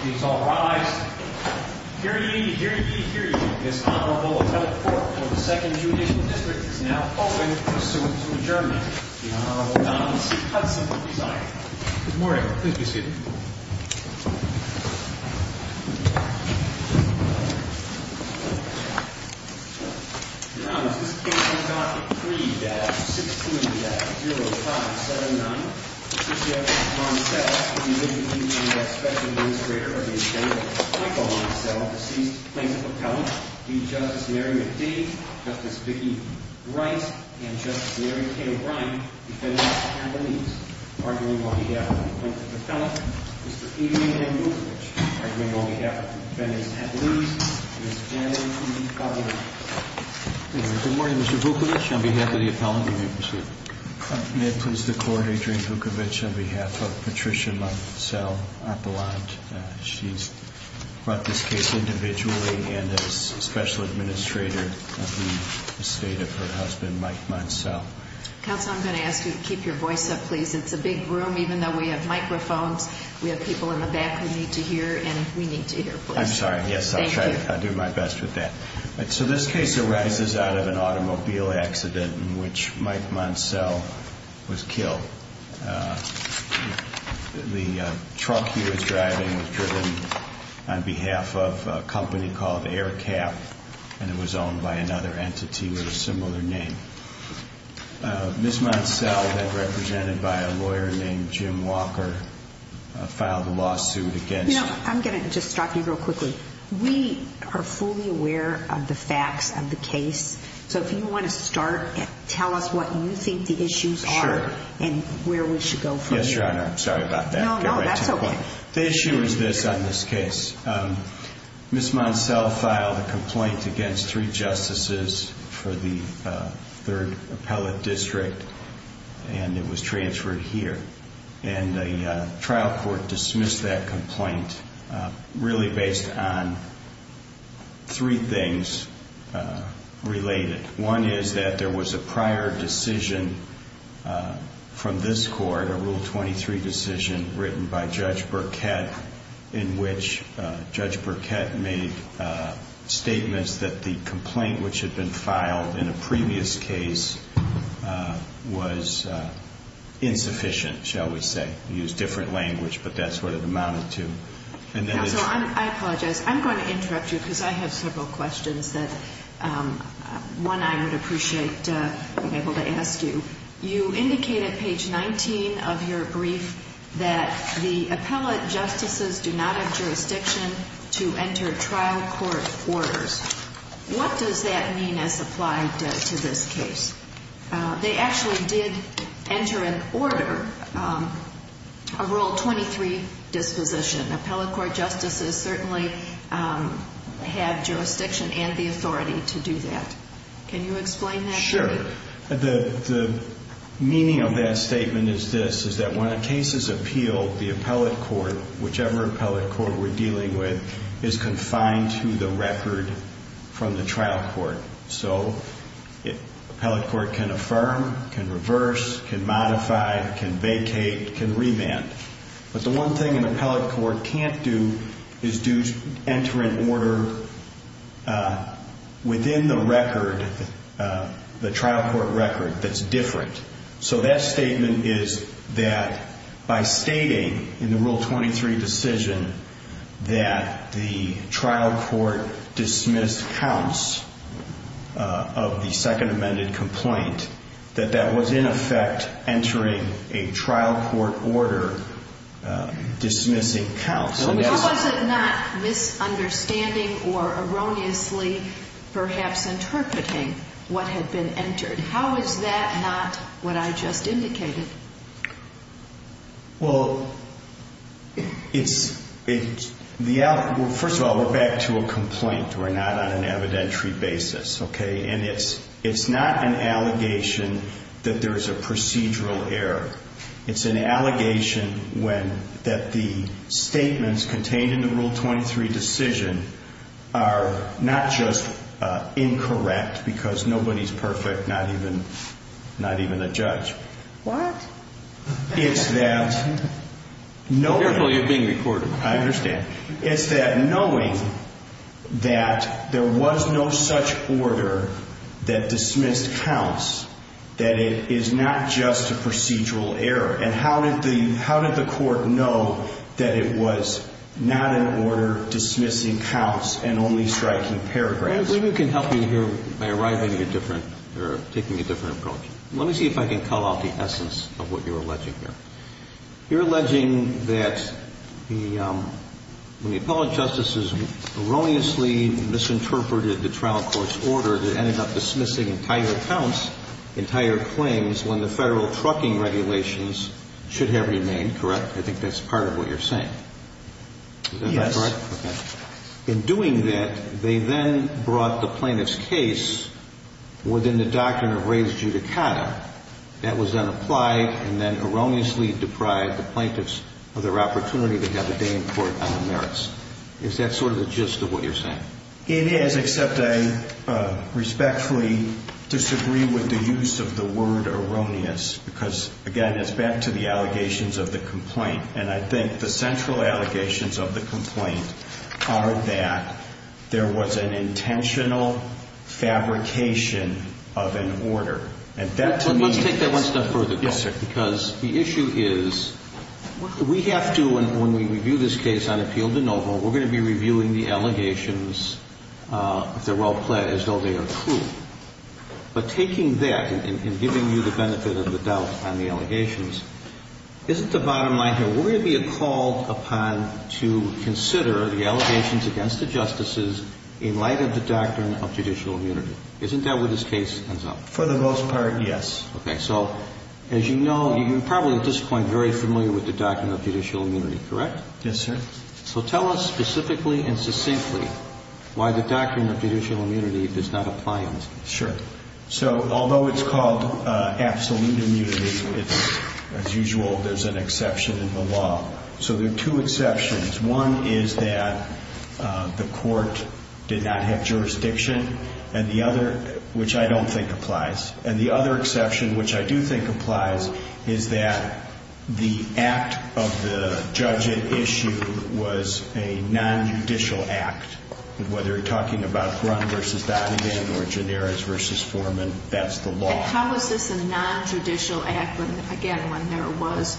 Please all rise. Hear ye, hear ye, hear ye. This Honorable Attellate Court for the 2nd Judicial District is now open. Pursuant to adjournment, the Honorable Don C. Hudson will resign. Good morning. Please be seated. Your Honor, this case is Docket 3-16-0579. The plaintiff, Don Celle, will be listed in the Special Administrator of the Appendix. Michael Moncelle, deceased plaintiff appellant. D. Justice Mary McDade, Justice Vicki Wright, and Justice Mary K. O'Brien, defendants at least. Arguing on behalf of the plaintiff appellant. Mr. Peter A. M. Vukovich, arguing on behalf of the defendants at least. Ms. Janelle E. Pavlina. Good morning, Mr. Vukovich. On behalf of the appellant, we may proceed. May it please the Court, Adrienne Vukovich, on behalf of Patricia Moncelle, appellant. She's brought this case individually and as Special Administrator of the estate of her husband, Mike Moncelle. Counsel, I'm going to ask you to keep your voice up, please. It's a big room, even though we have microphones. We have people in the back who need to hear, and we need to hear, please. I'm sorry. Yes, I'll try to do my best with that. So this case arises out of an automobile accident in which Mike Moncelle was killed. The truck he was driving was driven on behalf of a company called Air Cap, and it was owned by another entity with a similar name. Ms. Moncelle, then represented by a lawyer named Jim Walker, filed a lawsuit against her. You know, I'm going to just stop you real quickly. We are fully aware of the facts of the case. So if you want to start, tell us what you think the issues are and where we should go from here. Yes, Your Honor. I'm sorry about that. No, no, that's okay. The issue is this on this case. Ms. Moncelle filed a complaint against three justices for the third appellate district, and it was transferred here. And the trial court dismissed that complaint really based on three things related. One is that there was a prior decision from this court, a Rule 23 decision written by Judge Burkett, in which Judge Burkett made statements that the complaint which had been filed in a previous case was insufficient, shall we say. Used different language, but that's what it amounted to. Counsel, I apologize. I'm going to interrupt you because I have several questions that, one, I would appreciate being able to ask you. You indicated, page 19 of your brief, that the appellate justices do not have jurisdiction to enter trial court orders. What does that mean as applied to this case? They actually did enter an order, a Rule 23 disposition. Appellate court justices certainly have jurisdiction and the authority to do that. Can you explain that? Sure. The meaning of that statement is this, is that when a case is appealed, the appellate court, whichever appellate court we're dealing with, is confined to the record from the trial court. So appellate court can affirm, can reverse, can modify, can vacate, can revamp. But the one thing an appellate court can't do is enter an order within the record, the trial court record, that's different. So that statement is that by stating in the Rule 23 disposition that the trial court dismissed counts of the second amended complaint, that that was in effect entering a trial court order dismissing counts. So was it not misunderstanding or erroneously perhaps interpreting what had been entered? How is that not what I just indicated? Well, first of all, we're back to a complaint. We're not on an evidentiary basis. Okay? And it's not an allegation that there's a procedural error. It's an allegation that the statements contained in the Rule 23 decision are not just incorrect because nobody's perfect, not even a judge. What? It's that knowing... Careful, you're being recorded. I understand. It's that knowing that there was no such order that dismissed counts, that it is not just a procedural error. And how did the court know that it was not an order dismissing counts and only striking paragraphs? Maybe we can help you here by arriving at a different or taking a different approach. Let me see if I can call out the essence of what you're alleging here. You're alleging that when the appellate justices erroneously misinterpreted the trial court's order, they ended up dismissing entire counts, entire claims when the federal trucking regulations should have remained, correct? I think that's part of what you're saying. Yes. Is that correct? Okay. In doing that, they then brought the plaintiff's case within the doctrine of res judicata. That was then applied and then erroneously deprived the plaintiffs of their opportunity to have a day in court on the merits. Is that sort of the gist of what you're saying? It is, except I respectfully disagree with the use of the word erroneous because, again, it's back to the allegations of the complaint. And I think the central allegations of the complaint are that there was an intentional fabrication of an order. Let's take that one step further. Yes, sir. Because the issue is we have to, when we review this case on appeal de novo, we're going to be reviewing the allegations, if they're well-planned, as though they are true. But taking that and giving you the benefit of the doubt on the allegations, isn't the bottom line here, we're going to be called upon to consider the allegations against the justices in light of the doctrine of judicial immunity. Isn't that where this case ends up? For the most part, yes. Okay. So as you know, you're probably at this point very familiar with the doctrine of judicial immunity, correct? Yes, sir. So tell us specifically and succinctly why the doctrine of judicial immunity does not apply in this case. Sure. So although it's called absolute immunity, as usual, there's an exception in the law. So there are two exceptions. One is that the court did not have jurisdiction, and the other, which I don't think applies. And the other exception, which I do think applies, is that the act of the judge at issue was a nonjudicial act. Whether you're talking about Grunt v. Donovan or Gineris v. Foreman, that's the law. How is this a nonjudicial act, again, when there was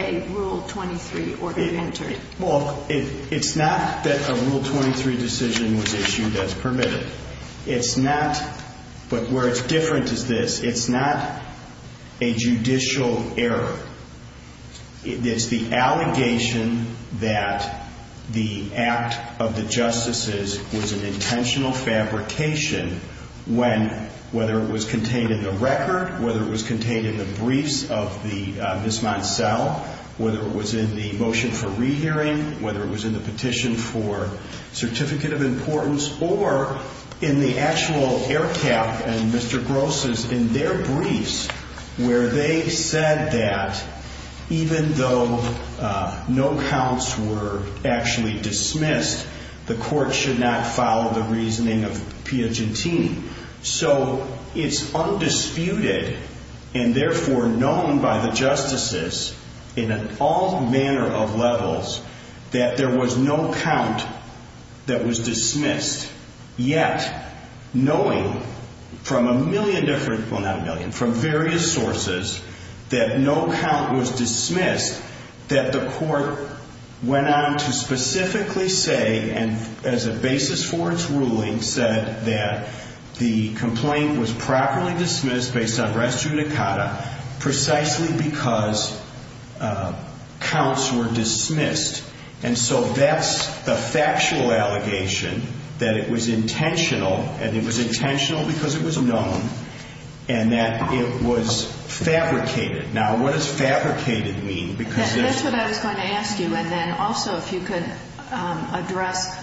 a Rule 23 order entered? Well, it's not that a Rule 23 decision was issued that's permitted. It's not, but where it's different is this. It's not a judicial error. It's the allegation that the act of the justices was an intentional fabrication when, whether it was contained in the record, whether it was contained in the briefs of the Miss Monselle, whether it was in the motion for rehearing, whether it was in the petition for certificate of importance, or in the actual air cap and Mr. Gross's in their briefs where they said that even though no counts were actually dismissed, the court should not follow the reasoning of Piagentini. So it's undisputed and therefore known by the justices in all manner of levels that there was no count that was dismissed. Yet, knowing from a million different, well, not a million, from various sources that no count was dismissed, that the court went on to specifically say, and as a basis for its ruling, said that the complaint was properly dismissed based on res judicata precisely because counts were dismissed. And so that's the factual allegation that it was intentional, and it was intentional because it was known, and that it was fabricated. Now, what does fabricated mean? That's what I was going to ask you. And then also if you could address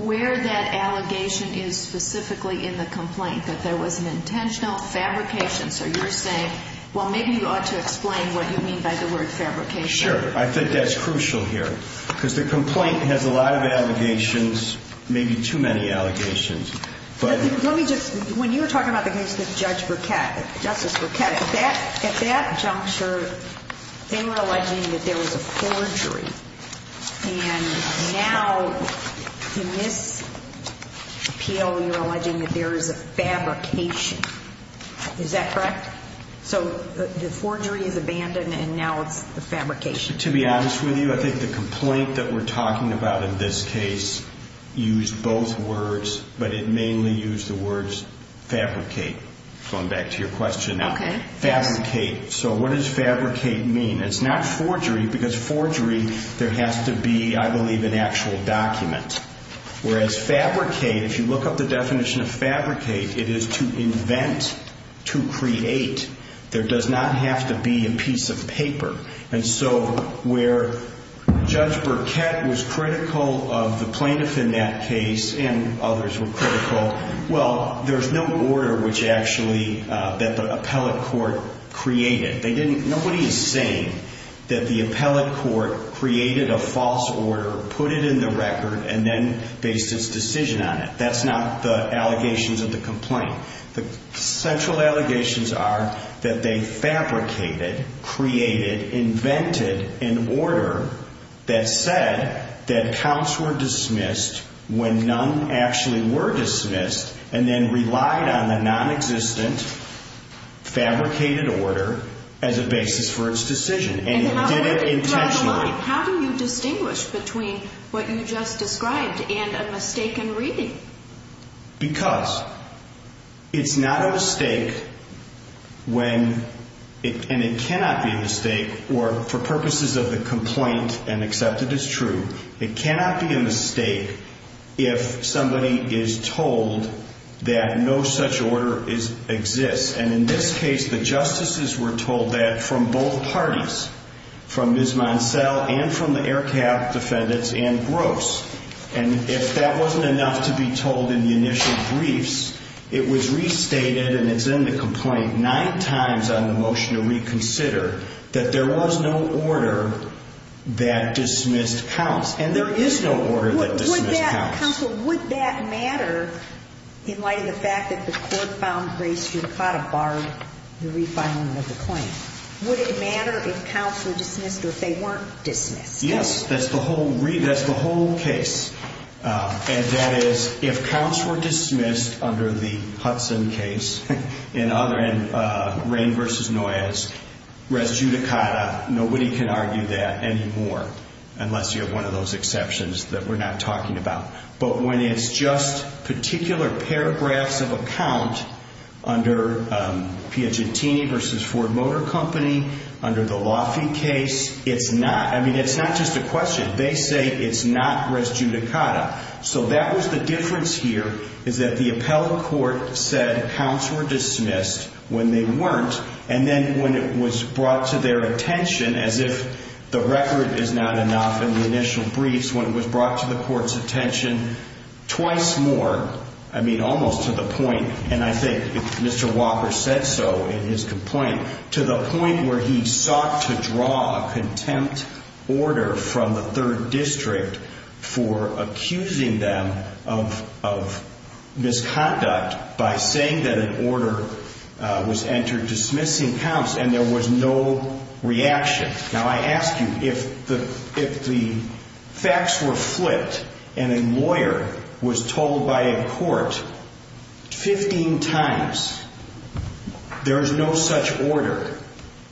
where that allegation is specifically in the complaint, that there was an intentional fabrication. So you're saying, well, maybe you ought to explain what you mean by the word fabrication. Sure. I think that's crucial here because the complaint has a lot of allegations, maybe too many allegations. Let me just, when you were talking about the case with Judge Burkett, Justice Burkett, at that juncture, they were alleging that there was a forgery, and now in this appeal you're alleging that there is a fabrication. Is that correct? So the forgery is abandoned and now it's the fabrication. To be honest with you, I think the complaint that we're talking about in this case used both words, but it mainly used the words fabricate. Going back to your question now. Fabricate. So what does fabricate mean? It's not forgery because forgery, there has to be, I believe, an actual document. Whereas fabricate, if you look up the definition of fabricate, it is to invent, to create. There does not have to be a piece of paper. And so where Judge Burkett was critical of the plaintiff in that case and others were critical, well, there's no order that the appellate court created. Nobody is saying that the appellate court created a false order, put it in the record, and then based its decision on it. That's not the allegations of the complaint. The central allegations are that they fabricated, created, invented an order that said that counts were dismissed when none actually were dismissed and then relied on the nonexistent fabricated order as a basis for its decision. And it did it intentionally. How do you distinguish between what you just described and a mistaken reading? Because it's not a mistake when, and it cannot be a mistake, or for purposes of the complaint and accepted as true, it cannot be a mistake if somebody is told that no such order exists. And in this case, the justices were told that from both parties, from Ms. Monsell and from the Air Cab defendants and Gross. And if that wasn't enough to be told in the initial briefs, it was restated, and it's in the complaint, nine times on the motion to reconsider, that there was no order that dismissed counts. And there is no order that dismissed counts. Counsel, would that matter in light of the fact that the court found Grace Rucotta barred the refinement of the claim? Would it matter if counts were dismissed or if they weren't dismissed? Yes, that's the whole case. And that is, if counts were dismissed under the Hudson case, in other end, Rain v. Noyes, res judicata, nobody can argue that anymore, unless you have one of those exceptions that we're not talking about. But when it's just particular paragraphs of a count under Piagentini v. Ford Motor Company, under the Laffey case, it's not, I mean, it's not just a question. They say it's not res judicata. So that was the difference here, is that the appellate court said counts were dismissed when they weren't, and then when it was brought to their attention, as if the record is not enough in the initial briefs, when it was brought to the court's attention twice more, I mean, almost to the point, and I think Mr. Walker said so in his complaint, to the point where he sought to draw a contempt order from the third district for accusing them of misconduct by saying that an order was entered dismissing counts, and there was no reaction. Now, I ask you, if the facts were flipped and a lawyer was told by a court 15 times there is no such order,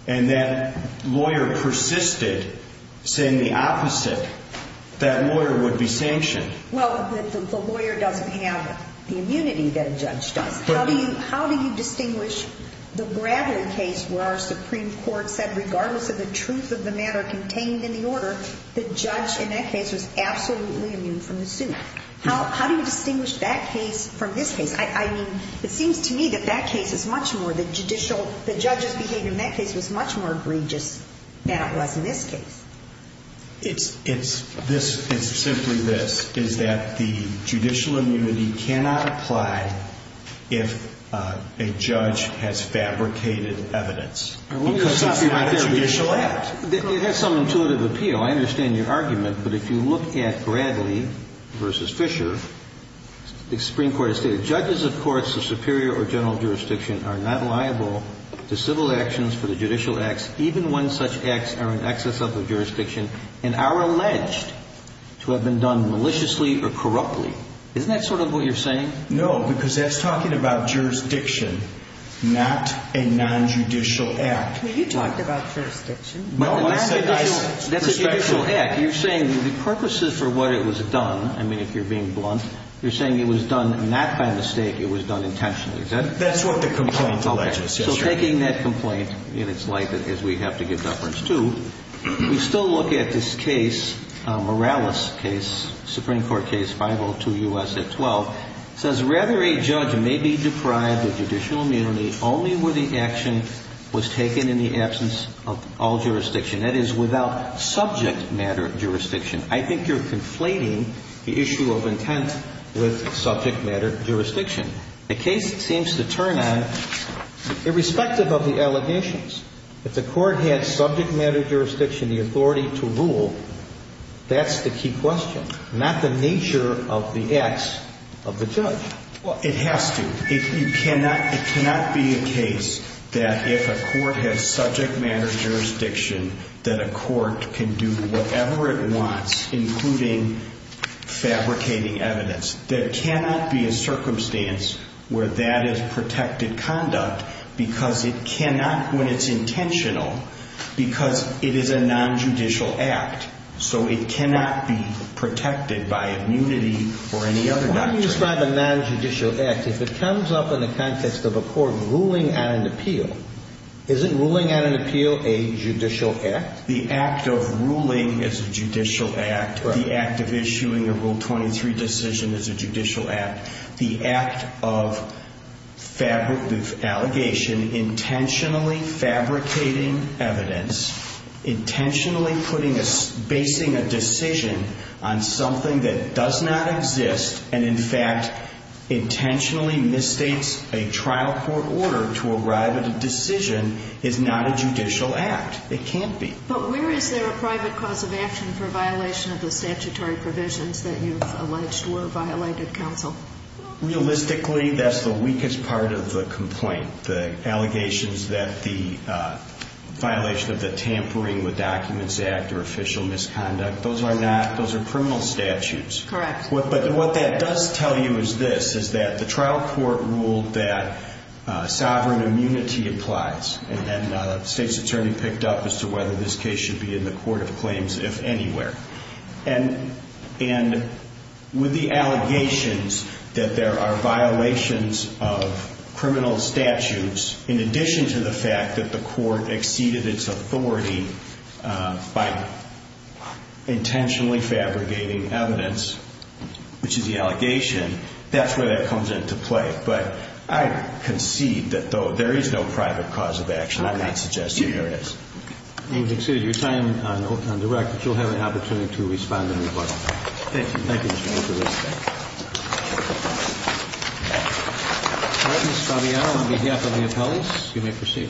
and that lawyer persisted saying the opposite, that lawyer would be sanctioned. Well, the lawyer doesn't have the immunity that a judge does. How do you distinguish the Bradley case where our Supreme Court said regardless of the truth of the matter contained in the order, the judge in that case was absolutely immune from the suit? How do you distinguish that case from this case? I mean, it seems to me that that case is much more the judicial, the judge's behavior in that case was much more egregious than it was in this case. It's simply this, is that the judicial immunity cannot apply if a judge has fabricated evidence. Because it's not a judicial act. It has some intuitive appeal. I understand your argument. But if you look at Bradley v. Fisher, the Supreme Court has stated judges of courts of superior or general jurisdiction are not liable to civil actions for the judicial acts, even when such acts are in excess of the jurisdiction and are alleged to have been done maliciously or corruptly. Isn't that sort of what you're saying? No, because that's talking about jurisdiction, not a nonjudicial act. Well, you talked about jurisdiction. No, I said nonjudicial. That's a judicial act. You're saying the purposes for what it was done, I mean, if you're being blunt, you're saying it was done not by mistake. It was done intentionally, is that it? That's what the complaint alleges, yes, Your Honor. In taking that complaint in its light, as we have to give deference to, we still look at this case, Morales case, Supreme Court case 502 U.S. at 12. It says, rather a judge may be deprived of judicial immunity only where the action was taken in the absence of all jurisdiction. That is, without subject matter jurisdiction. I think you're conflating the issue of intent with subject matter jurisdiction. The case seems to turn on irrespective of the allegations. If the court had subject matter jurisdiction, the authority to rule, that's the key question, not the nature of the acts of the judge. Well, it has to. It cannot be a case that if a court has subject matter jurisdiction, that a court can do whatever it wants, including fabricating evidence. There cannot be a circumstance where that is protected conduct because it cannot, when it's intentional, because it is a nonjudicial act. So it cannot be protected by immunity or any other doctrine. Why do you describe a nonjudicial act? If it comes up in the context of a court ruling on an appeal, isn't ruling on an appeal a judicial act? The act of ruling is a judicial act. The act of issuing a Rule 23 decision is a judicial act. The act of allegation intentionally fabricating evidence, intentionally basing a decision on something that does not exist, and in fact intentionally misstates a trial court order to arrive at a decision, is not a judicial act. It can't be. But where is there a private cause of action for violation of the statutory provisions that you've alleged were violated, counsel? Realistically, that's the weakest part of the complaint. The allegations that the violation of the Tampering with Documents Act are official misconduct, those are not. Those are criminal statutes. Correct. But what that does tell you is this, is that the trial court ruled that sovereign immunity applies, and then the state's attorney picked up as to whether this case should be in the court of claims if anywhere. And with the allegations that there are violations of criminal statutes, in addition to the fact that the court exceeded its authority by intentionally fabricating evidence, which is the allegation, that's where that comes into play. But I concede that, though, there is no private cause of action. I'm not suggesting there is. Okay. We've exceeded your time on direct, but you'll have an opportunity to respond in rebuttal. Thank you. Thank you, Mr. Major. All right, Ms. Fabiano, on behalf of the appellees, you may proceed.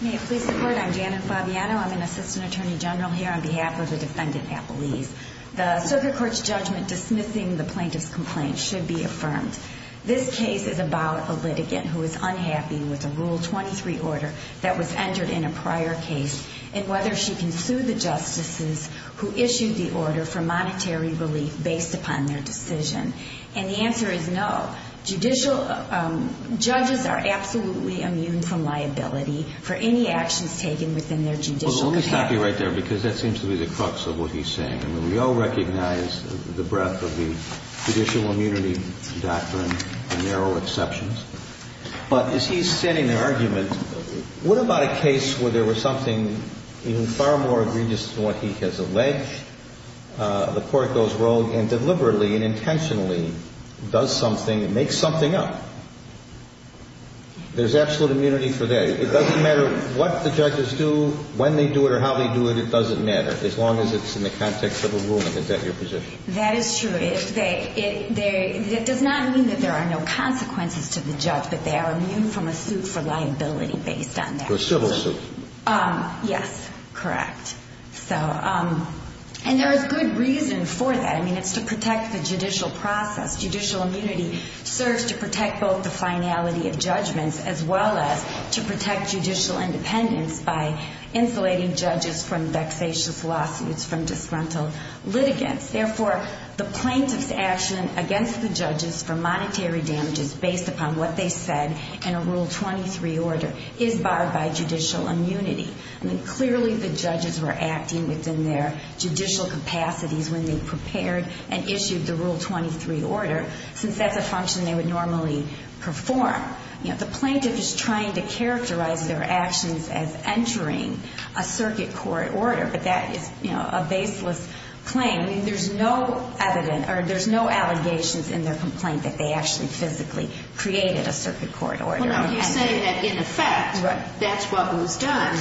May it please the Court, I'm Janet Fabiano. I'm an assistant attorney general here on behalf of the defendant appellees. The circuit court's judgment dismissing the plaintiff's complaint should be affirmed. This case is about a litigant who is unhappy with a Rule 23 order that was entered in a prior case and whether she can sue the justices who issued the order for monetary relief based upon their decision. And the answer is no. Judges are absolutely immune from liability for any actions taken within their judicial capacity. Well, let me stop you right there, because that seems to be the crux of what he's saying. I mean, we all recognize the breadth of the judicial immunity doctrine and narrow exceptions. But as he's setting an argument, what about a case where there was something even far more egregious than what he has alleged? The court goes rogue and deliberately and intentionally does something and makes something up. There's absolute immunity for that. It doesn't matter what the judges do, when they do it, or how they do it. It doesn't matter, as long as it's in the context of a ruling. Is that your position? That is true. It does not mean that there are no consequences to the judge, but they are immune from a suit for liability based on that. A civil suit. Yes, correct. And there is good reason for that. I mean, it's to protect the judicial process. Judicial immunity serves to protect both the finality of judgments as well as to protect judicial independence by insulating judges from vexatious lawsuits, from disgruntled litigants. Therefore, the plaintiff's action against the judges for monetary damages based upon what they said in a Rule 23 order is barred by judicial immunity. I mean, clearly the judges were acting within their judicial capacities when they prepared and issued the Rule 23 order, since that's a function they would normally perform. The plaintiff is trying to characterize their actions as entering a circuit court order, but that is a baseless claim. I mean, there's no evidence or there's no allegations in their complaint that they actually physically created a circuit court order. Well, now, you say that, in effect, that's what was done,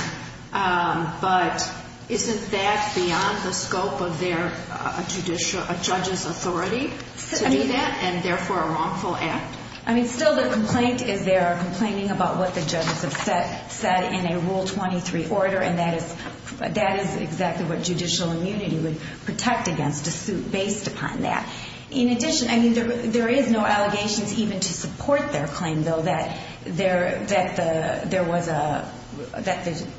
but isn't that beyond the scope of a judge's authority to do that and, therefore, a wrongful act? I mean, still the complaint is they are complaining about what the judges have said in a Rule 23 order, and that is exactly what judicial immunity would protect against a suit based upon that. In addition, I mean, there is no allegations even to support their claim, though, that the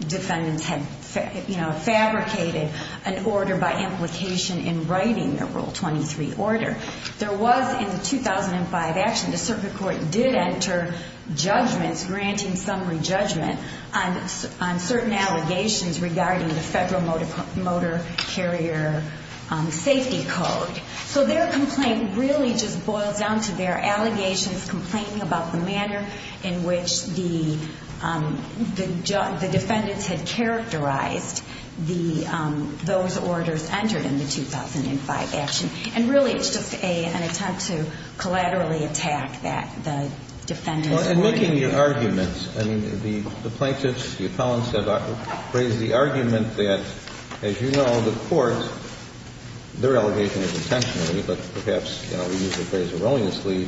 defendants had fabricated an order by implication in writing the Rule 23 order. There was, in the 2005 action, the circuit court did enter judgments granting summary judgment on certain allegations regarding the Federal Motor Carrier Safety Code. So their complaint really just boils down to their allegations complaining about the manner in which the defendants had characterized those orders entered in the 2005 action. And, really, it's just an attempt to collaterally attack that, the defendants' argument. Well, in making your arguments, I mean, the plaintiffs, the appellants have raised the argument that, as you know, the court, their allegation was intentionally, but perhaps, you know, we use the phrase erroneously,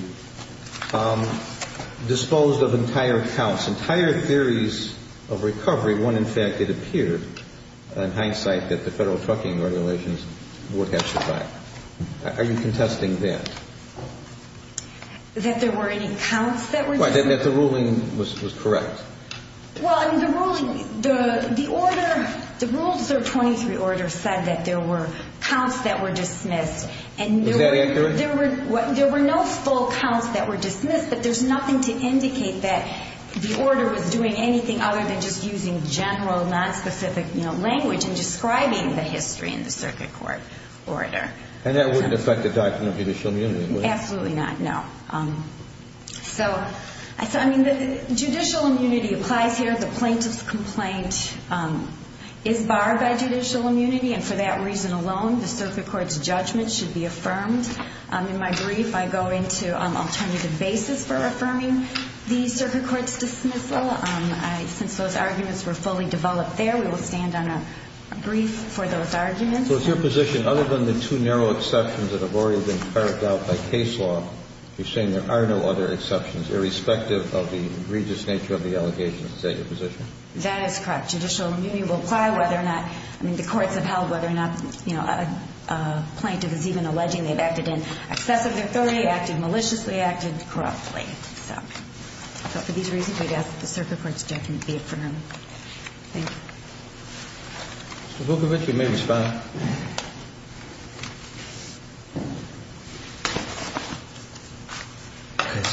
disposed of entire counts, entire theories of recovery when, in fact, it appeared, in hindsight, that the Federal Trucking Regulations were cast aside. Are you contesting that? That there were any counts that were dismissed? Right. That the ruling was correct. Well, I mean, the ruling, the order, the Rule 23 order said that there were counts that were dismissed. Is that accurate? There were no full counts that were dismissed, but there's nothing to indicate that the order was doing anything other than just using general nonspecific language in describing the history in the circuit court order. And that wouldn't affect the doctrine of judicial immunity, would it? Absolutely not, no. So, I mean, judicial immunity applies here. The plaintiff's complaint is barred by judicial immunity, and for that reason alone, the circuit court's judgment should be affirmed. In my brief, I go into an alternative basis for affirming the circuit court's dismissal. Since those arguments were fully developed there, we will stand on a brief for those arguments. So it's your position, other than the two narrow exceptions that have already been carried out by case law, you're saying there are no other exceptions, irrespective of the egregious nature of the allegations. Is that your position? That is correct. Judicial immunity will apply whether or not, I mean, the courts have held whether or not, you know, a plaintiff is even alleging they've acted in excess of their authority, acted maliciously, acted corruptly. So, for these reasons, I guess the circuit court's judgment would be affirmed. Thank you. Mr. Booker, if you may respond. Okay, so,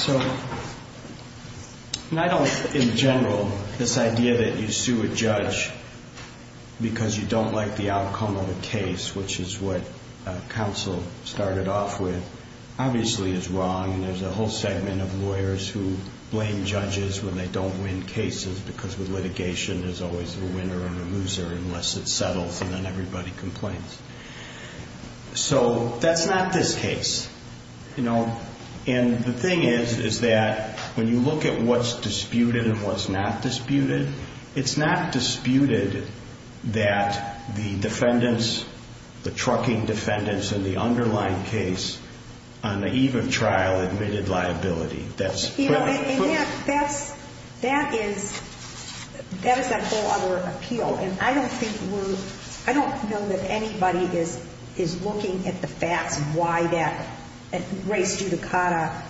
I don't, in general, this idea that you sue a judge because you don't like the outcome of a case, which is what counsel started off with, obviously is wrong. There's a whole segment of lawyers who blame judges when they don't win cases, because with litigation there's always a winner and a loser unless it settles and then everybody complains. So, that's not this case. You know, and the thing is, is that when you look at what's disputed and what's not disputed, it's not disputed that the defendants, the trucking defendants, and the underlying case on the eve of trial admitted liability. You know, and that's, that is, that is a whole other appeal, and I don't think we're, I don't know that anybody is looking at the facts of why that race judicata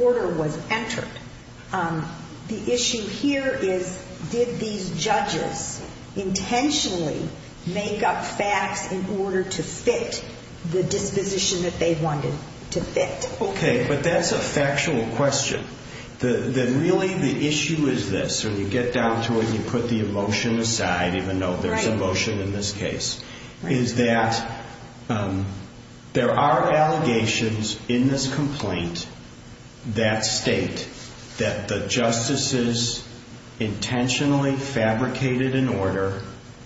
order was entered. The issue here is, did these judges intentionally make up facts in order to fit the disposition that they wanted to fit? Okay, but that's a factual question. The, the, really the issue is this, when you get down to it and you put the emotion aside, even though there's emotion in this case, is that there are allegations in this complaint that state that the justices intentionally fabricated an order,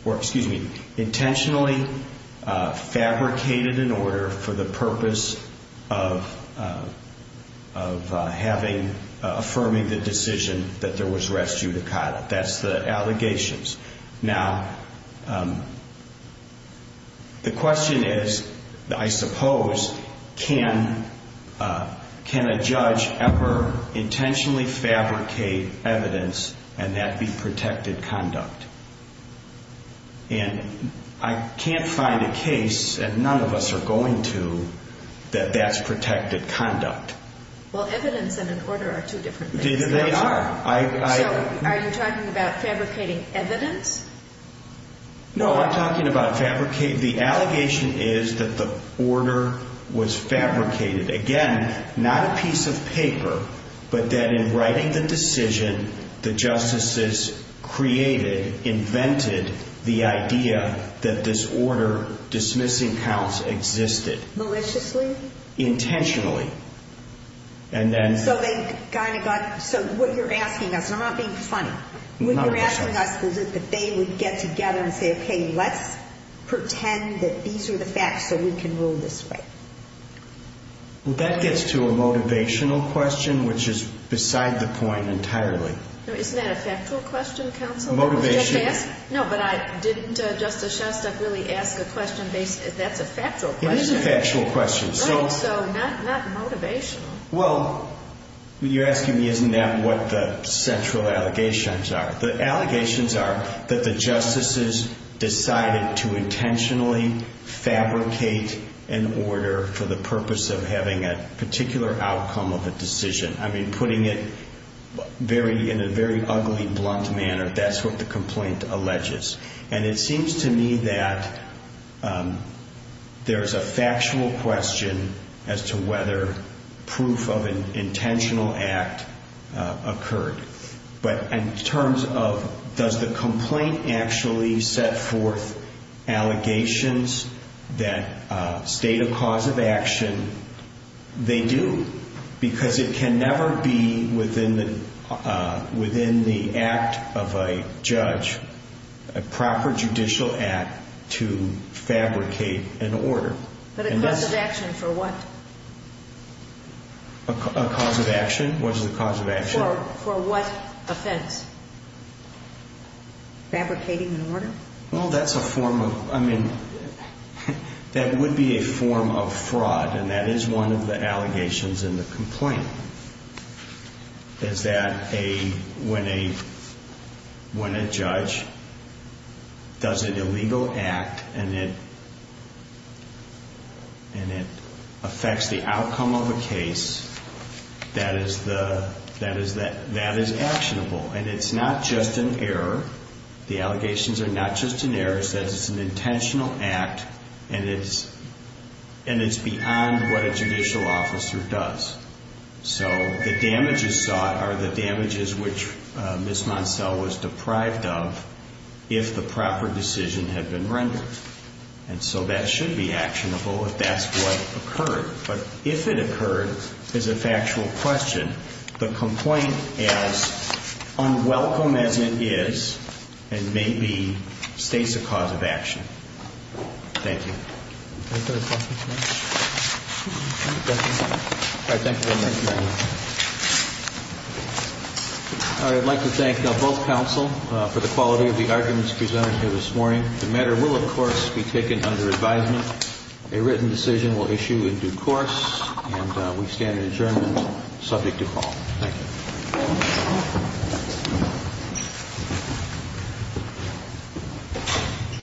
or excuse me, intentionally fabricated an order for the purpose of, of having, affirming the decision that there was rest judicata. That's the allegations. Now, the question is, I suppose, can, can a judge ever intentionally fabricate evidence and that be protected conduct? And I can't find a case, and none of us are going to, that that's protected conduct. Well, evidence and an order are two different things. So, are you talking about fabricating evidence? No, I'm talking about fabricating, the allegation is that the order was fabricated. Again, not a piece of paper, but that in writing the decision, the justices created, invented, the idea that this order dismissing counts existed. Maliciously? Intentionally. And then. So they kind of got, so what you're asking us, and I'm not being funny. Not at all. What you're asking us is that they would get together and say, okay, let's pretend that these are the facts so we can rule this way. Well, that gets to a motivational question, which is beside the point entirely. Isn't that a factual question, counsel? Motivation. No, but I didn't, Justice Shostak, really ask a question based, that's a factual question. It is a factual question. Right, so not motivational. Well, you're asking me, isn't that what the central allegations are? The allegations are that the justices decided to intentionally fabricate an order for the purpose of having a particular outcome of a decision. I mean, putting it in a very ugly, blunt manner, that's what the complaint alleges. And it seems to me that there's a factual question as to whether proof of an intentional act occurred. But in terms of does the complaint actually set forth allegations that state a cause of action, they do. Because it can never be within the act of a judge, a proper judicial act, to fabricate an order. But a cause of action for what? A cause of action was the cause of action. For what offense? Fabricating an order? Well, that's a form of, I mean, that would be a form of fraud. And that is one of the allegations in the complaint, is that when a judge does an illegal act and it affects the outcome of a case, that is actionable. And it's not just an error. The allegations are not just an error. It's that it's an intentional act and it's beyond what a judicial officer does. So the damages sought are the damages which Ms. Moncel was deprived of if the proper decision had been rendered. And so that should be actionable if that's what occurred. But if it occurred as a factual question, the complaint as unwelcome as it is and may be states a cause of action. Thank you. Any further questions? All right. Thank you very much, Your Honor. All right. I'd like to thank both counsel for the quality of the arguments presented here this morning. The matter will, of course, be taken under advisement. A written decision will issue in due course. And we stand adjourned subject to call. Thank you.